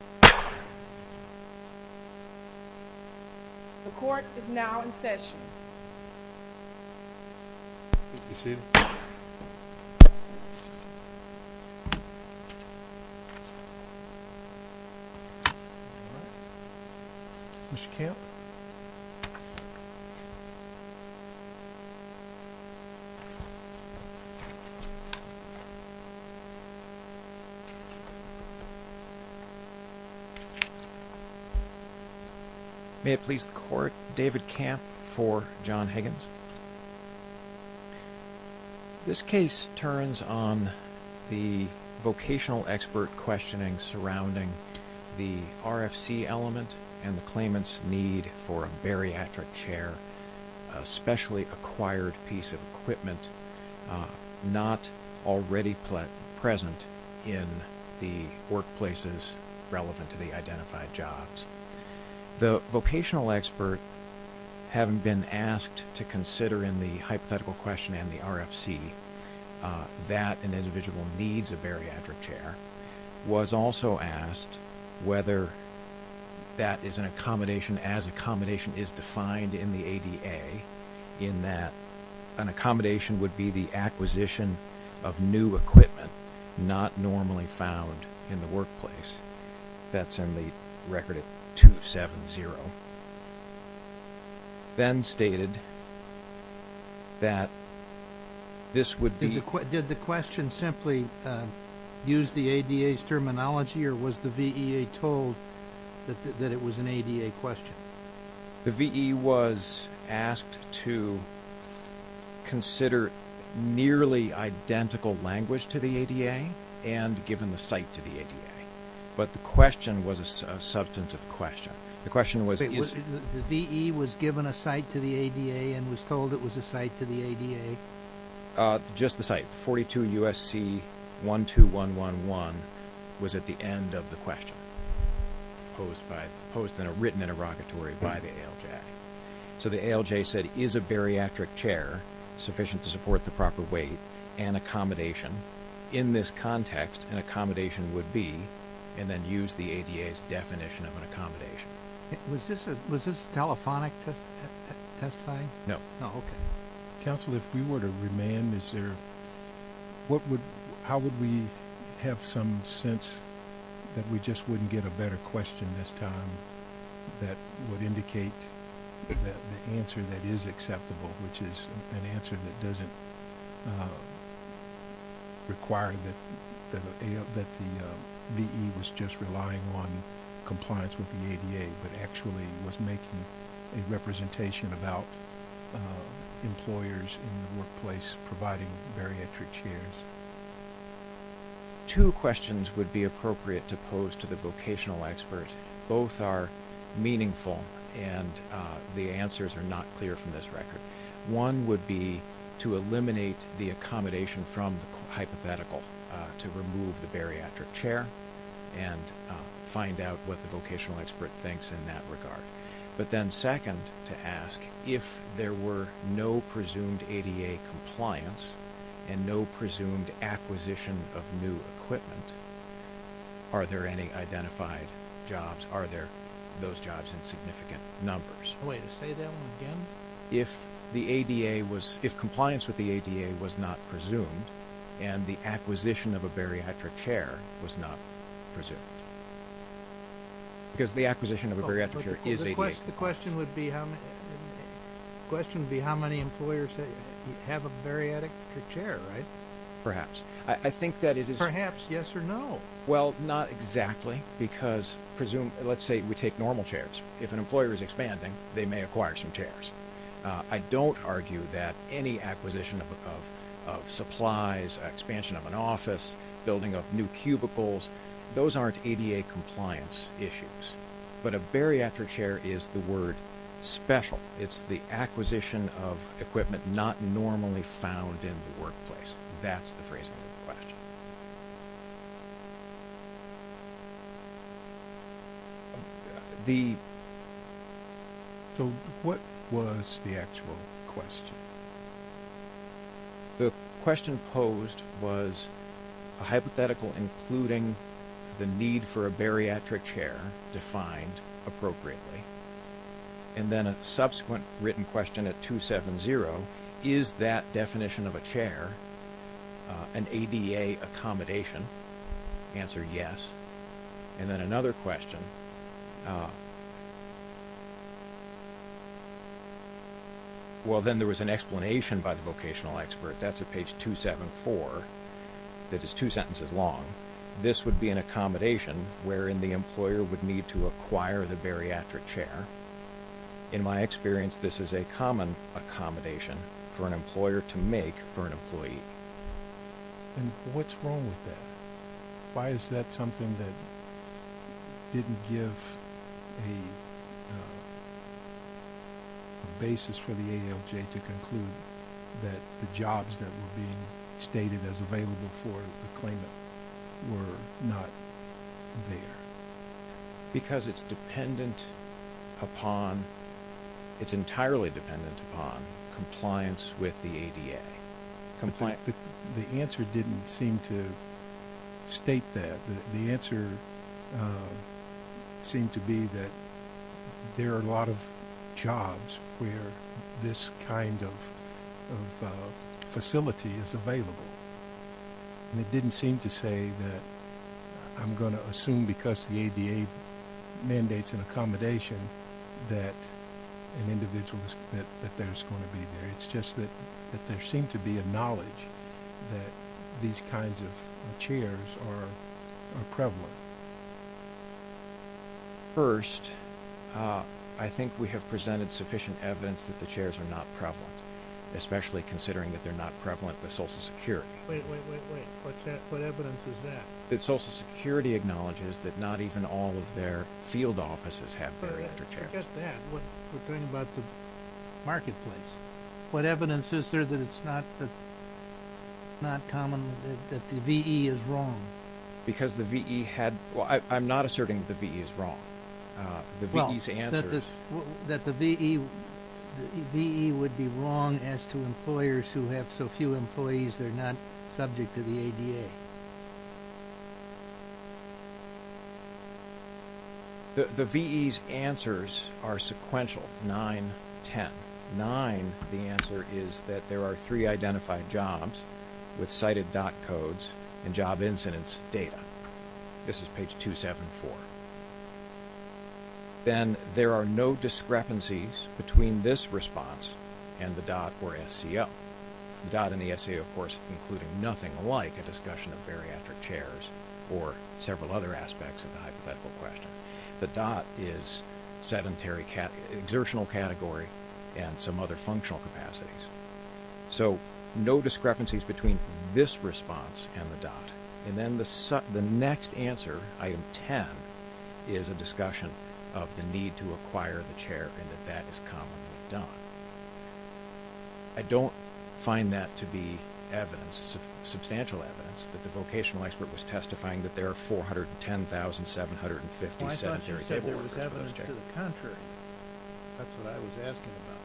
The Court is now in Session. May it please the Court, David Camp for John Higgins. This case turns on the vocational expert questioning surrounding the RFC element and the claimant's need for a bariatric chair, a specially acquired piece of equipment not already present in the workplaces relevant to the identified jobs. The vocational expert, having been asked to consider in the hypothetical question and the RFC that an individual needs a bariatric chair, was also asked whether that is an accommodation as accommodation is defined in the ADA in that an accommodation would be the acquisition of new equipment not normally found in the workplace. That's in the record at 270. Ben stated that this would be... Did the question simply use the ADA's terminology or was the VEA told that it was an ADA question? The VEA was asked to consider nearly identical language to the ADA and given the site to the ADA, but the question was a substantive question. The question was... The VEA was given a site to the ADA and was told it was a site to the ADA? Just the site, 42 USC 12111 was at the end of the question, written in a rocket to the VEA in February by the ALJ. So the ALJ said is a bariatric chair sufficient to support the proper weight and accommodation? In this context, an accommodation would be, and then use the ADA's definition of an accommodation. Was this telephonic testifying? No. No, okay. Counsel if we were to remand this error, how would we have some sense that we just wouldn't get a better question this time that would indicate that the answer that is acceptable, which is an answer that doesn't require that the VEA was just relying on compliance with the ADA, but actually was making a representation about employers in the workplace providing bariatric chairs? Two questions would be appropriate to pose to the vocational expert. Both are meaningful and the answers are not clear from this record. One would be to eliminate the accommodation from the hypothetical to remove the bariatric chair and find out what the vocational expert thinks in that regard. But then second to ask, if there were no presumed ADA compliance and no presumed acquisition of new equipment, are there any identified jobs? Are there those jobs in significant numbers? Wait, say that one again? If the ADA was, if compliance with the ADA was not presumed and the acquisition of a bariatric chair was not presumed. Because the acquisition of a bariatric chair is ADA compliance. The question would be how many employers have a bariatric chair, right? Perhaps. I think that it is... Perhaps, yes or no? Well not exactly because presume, let's say we take normal chairs. If an employer is expanding, they may acquire some chairs. I don't argue that any acquisition of supplies, expansion of an office, building up new cubicles, those aren't ADA compliance issues. But a bariatric chair is the word special. It's the acquisition of equipment not normally found in the workplace. That's the phrasing of the question. So what was the actual question? The question posed was a hypothetical including the need for a bariatric chair defined appropriately. And then a subsequent written question at 270, is that definition of a chair an ADA accommodation? Answer yes. And then another question, well then there was an explanation by the vocational expert. That's at page 274. That is two sentences long. This would be an accommodation wherein the employer would need to acquire the bariatric chair. In my experience this is a common accommodation for an employer to make for an employee. And what's wrong with that? Why is that something that didn't give a basis for the ALJ to conclude that the jobs that were being stated as available for the claimant were not there? Because it's dependent upon, it's entirely dependent upon compliance with the ADA. The answer didn't seem to state that. The answer seemed to be that there are a lot of facilities available. It didn't seem to say that I'm going to assume because the ADA mandates an accommodation that an individual is going to be there. It's just that there seemed to be a knowledge that these kinds of chairs are prevalent. First, I think we have presented sufficient evidence that the chairs are not prevalent. Especially considering that they're not prevalent with Social Security. Wait, wait, wait, wait. What evidence is that? That Social Security acknowledges that not even all of their field offices have bariatric chairs. Forget that. We're talking about the marketplace. What evidence is there that it's not common, that the VE is wrong? Because the VE had, well I'm not asserting that the VE is wrong. Well, that the VE would be wrong as to employers who have so few employees they're not subject to the ADA. The VE's answers are sequential. Nine, ten. Nine, the answer is that there are three identified jobs with cited DOT codes and job incidence data. This is page 274. Then, there are no discrepancies between this response and the DOT or SCO. The DOT and the SCO, of course, include nothing like a discussion of bariatric chairs or several other aspects of the hypothetical question. The DOT is sedentary, exertional category and some other functional capacities. So, no discrepancies between this response and the DOT. And then the next answer, item 10, is a discussion of the need to acquire the chair and that that is commonly done. I don't find that to be evidence, substantial evidence, that the vocational expert was testifying that there are 410,750 sedentary table workers. Why don't you say there was evidence to the contrary? That's what I was asking about.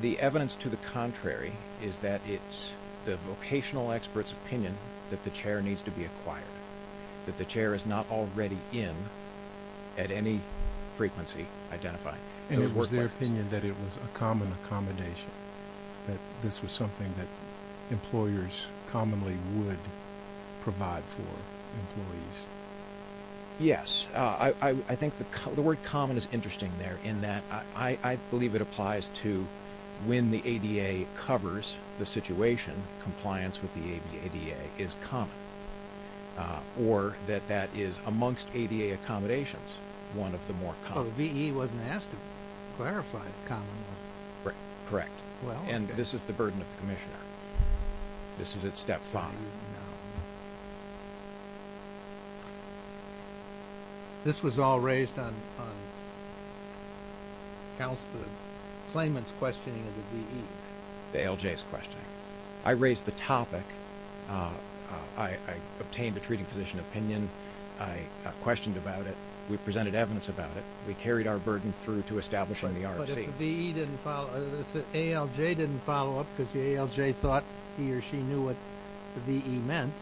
The evidence to the contrary is that it's the vocational expert's opinion that the chair needs to be acquired, that the chair is not already in at any frequency identified. And it was their opinion that it was a common accommodation, that this was something that employers commonly would provide for employees. Yes, I think the word common is interesting there in that I believe it applies to when the ADA covers the situation, compliance with the ADA is common. Or that that is amongst ADA accommodations, one of the more common. Well, the VE wasn't asked to clarify the common one. Correct. And this is the burden of the Commissioner. This is at step 5. This was all raised on the claimant's questioning of the VE. The ALJ's questioning. I raised the topic, I obtained a treating physician opinion, I questioned about it, we presented evidence about it, we carried our burden through to establishing the RFC. But if the ALJ didn't follow up because the ALJ thought he or she knew what the VE meant,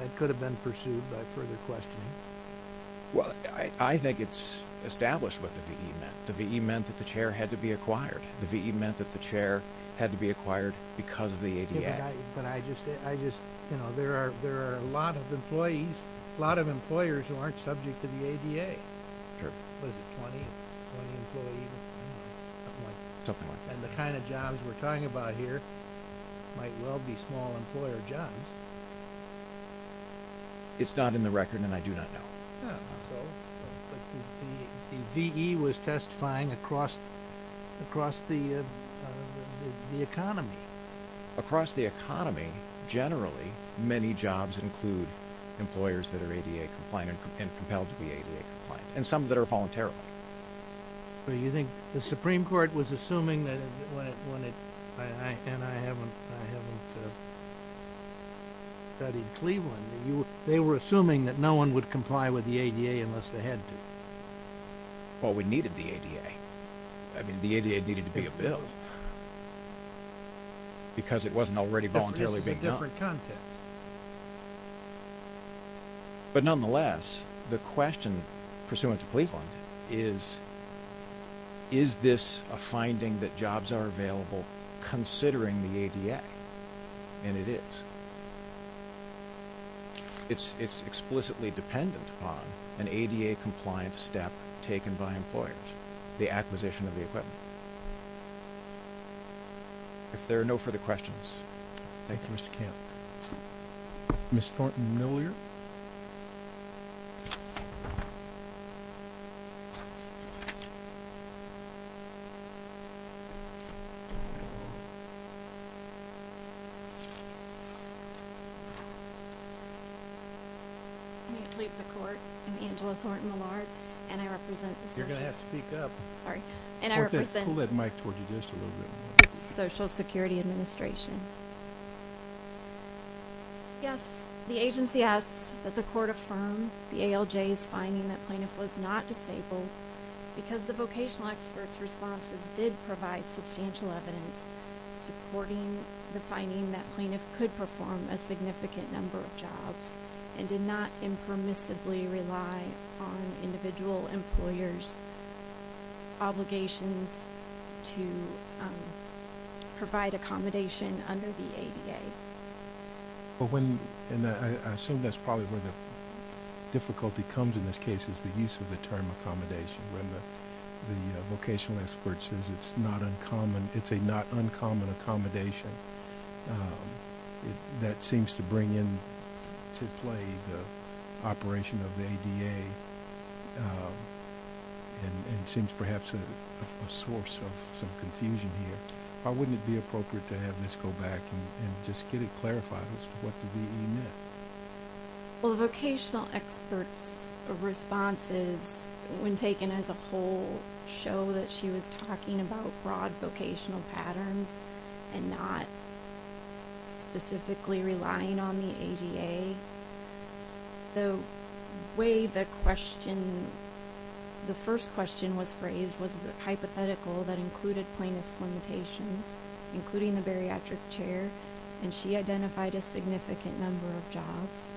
that could have been pursued by further questioning. Well, I think it's established what the VE meant. The VE meant that the chair had to be acquired. The VE meant that the chair had to be acquired because of the ADA. But I just, you know, there are a lot of employees, a lot of employers who aren't subject to the ADA. Sure. Was it 20, 20 employees, something like that. Something like that. And the kind of jobs we're talking about here might well be small employer jobs. It's not in the record and I do not know. Oh, I'm sorry. But the VE was testifying across the economy. Across the economy, generally, many jobs include employers that are ADA compliant and compelled to be ADA compliant, and some that are voluntarily. Well, you think the Supreme Court was assuming that when it... And I haven't studied Cleveland. They were assuming that no one would comply with the ADA unless they had to. Well, we needed the ADA. I mean, the ADA needed to be a bill. Because it wasn't already voluntarily being done. It's a different context. But nonetheless, the question pursuant to Cleveland is, is this a finding that jobs are available considering the ADA? And it is. It's explicitly dependent upon an ADA compliant step taken by employers. The acquisition of the equipment. If there are no further questions. Thank you, Mr. Camp. Ms. Thornton-Miller? I'm going to plead the court. I'm Angela Thornton-Miller, and I represent the Social... You're going to have to speak up. Sorry. And I represent... Pull that mic toward you just a little bit more. Social Security Administration. Yes, the agency asks that the court affirm the ALJ's finding that plaintiff was not disabled because the vocational experts' responses did provide substantial evidence supporting the finding that plaintiff could perform a significant number of jobs and did not impermissibly rely on individual employers' obligations to provide accommodation under the ADA. But when... And I assume that's probably where the difficulty comes in this case is the use of the term accommodation when the vocational expert says it's not uncommon, it's a not uncommon accommodation that seems to bring in to play the operation of the ADA and seems perhaps a source of some confusion here. Why wouldn't it be appropriate to have this go back and just get it clarified as to what the V.E. meant? Well, the vocational experts' responses, when taken as a whole show that she was talking about broad vocational patterns and not specifically relying on the ADA, the way the question... hypothetical that included plaintiff's limitations, including the bariatric chair, and she identified a significant number of jobs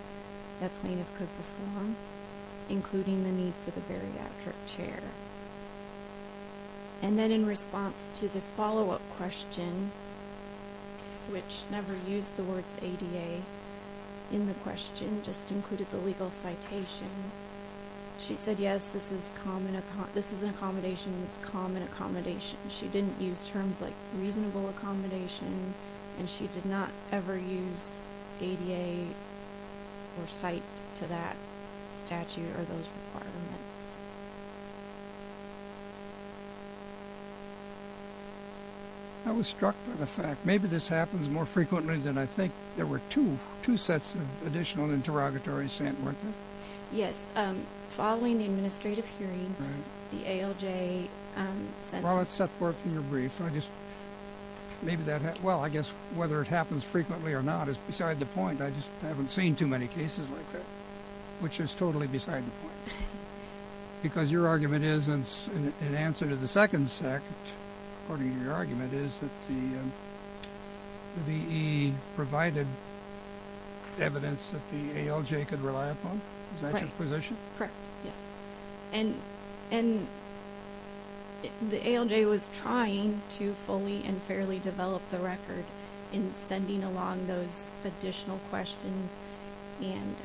that plaintiff could perform, including the need for the bariatric chair. And then in response to the follow-up question, which never used the words ADA in the question, just included the legal citation, she said, yes, this is an accommodation that's a common accommodation. She didn't use terms like reasonable accommodation, and she did not ever use ADA or cite to that statute or those requirements. I was struck by the fact, maybe this happens more frequently than I think there were two sets of additional interrogatory sent, weren't there? Yes, following the administrative hearing, the ALJ sent... Well, it's set forth in your brief. Maybe that... Well, I guess whether it happens frequently or not is beside the point. I just haven't seen too many cases like that, which is totally beside the point. Because your argument is, in answer to the second sect, according to your argument, it is that the DE provided evidence that the ALJ could rely upon? Is that your position? Correct, yes. And the ALJ was trying to fully and fairly develop the record in sending along those additional questions and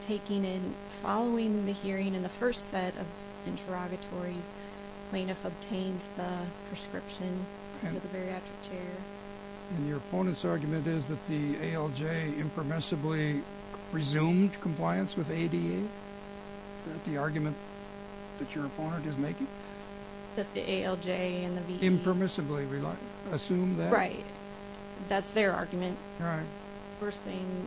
taking in... Following the hearing in the first set of interrogatories, plaintiff obtained the prescription for the bariatric chair. And your opponent's argument is that the ALJ impermissibly resumed compliance with ADA? Is that the argument that your opponent is making? That the ALJ and the VE... Impermissibly assumed that? Right, that's their argument. Right. First thing,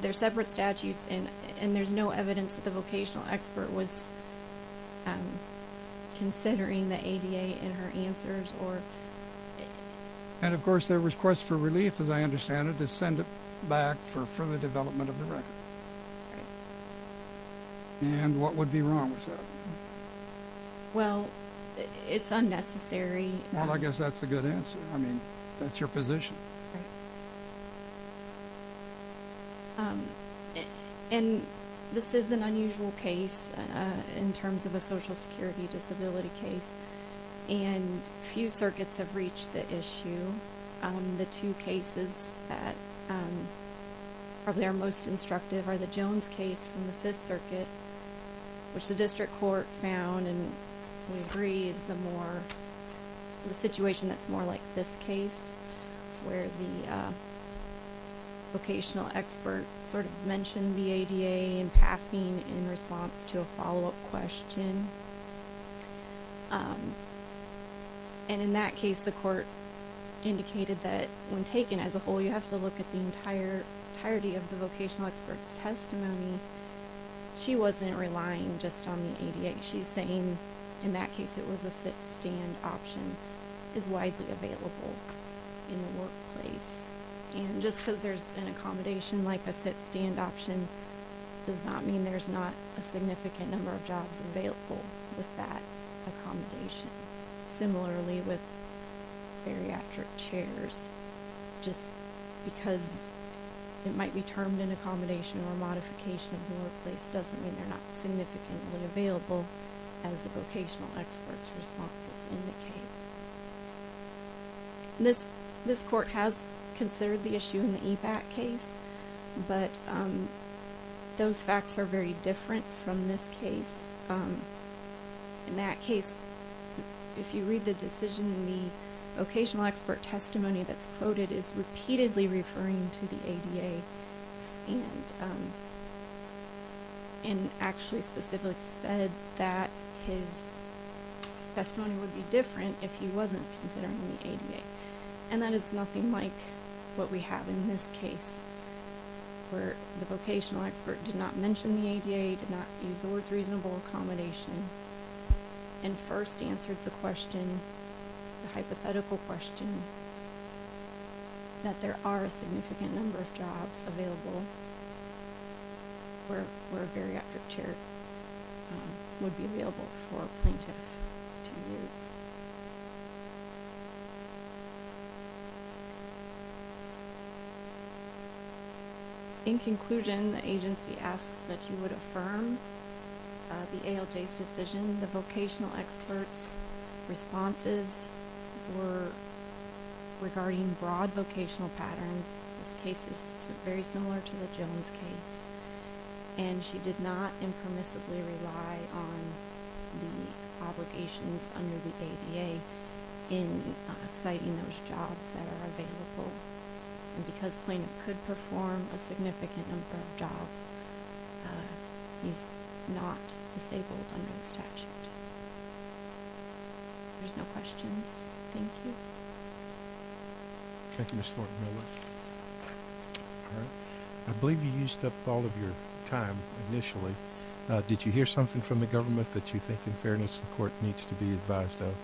they're separate statutes, and there's no evidence that the vocational expert was considering the ADA in her answers or... And, of course, their request for relief, as I understand it, is send it back for further development of the record. Right. And what would be wrong with that? Well, it's unnecessary... Well, I guess that's a good answer. I mean, that's your position. Right. Um... And this is an unusual case in terms of a Social Security disability case, and few circuits have reached the issue. The two cases that probably are most instructive are the Jones case from the Fifth Circuit, which the district court found, and we agree, is the more... The situation that's more like this case, where the vocational expert sort of mentioned the ADA in passing in response to a follow-up question. And in that case, the court indicated that when taken as a whole, you have to look at the entirety of the vocational expert's testimony. She wasn't relying just on the ADA. She's saying, in that case, it was a sit-stand option, is widely available in the workplace. And just because there's an accommodation like a sit-stand option does not mean there's not a significant number of jobs available with that accommodation. Similarly with bariatric chairs, just because it might be termed an accommodation or a modification of the workplace doesn't mean they're not significantly available as the vocational expert's responses indicate. This court has considered the issue in the EBAC case, but those facts are very different from this case. In that case, if you read the decision, the vocational expert testimony that's quoted is repeatedly referring to the ADA, and actually specifically said that his testimony would be different if he wasn't considering the ADA. And that is nothing like what we have in this case, where the vocational expert did not mention the ADA, did not use the words reasonable accommodation, and first answered the question, the hypothetical question, that there are a significant number of jobs available where a bariatric chair would be available for a plaintiff to use. In conclusion, the agency asks that you would affirm the ALJ's decision, the vocational expert's responses were regarding broad vocational patterns. This case is very similar to the Jones case, and she did not impermissibly rely on the obligations under the ADA in citing those jobs that are available. And because plaintiff could perform a significant number of jobs, he's not disabled under the statute. There's no questions. Thank you. Thank you, Ms. Thornton-Miller. I believe you used up all of your time initially. Did you hear something from the government that you think, in fairness, the court needs to be advised of?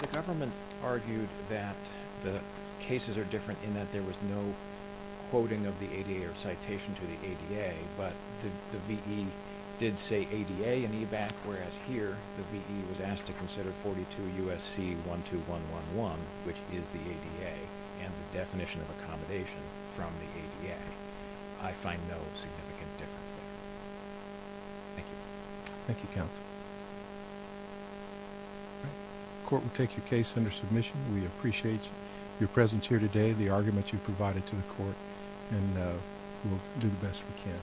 The government argued that the cases are different in that there was no quoting of the ADA or citation to the ADA, but the V.E. did say ADA and EBAC, whereas here the V.E. was asked to consider 42 U.S.C. 12111, which is the ADA, and the definition of accommodation from the ADA. I find no significant difference there. Thank you. Thank you, counsel. The court will take your case under submission. We appreciate your presence here today, the arguments you've provided to the court, and we'll do the best we can.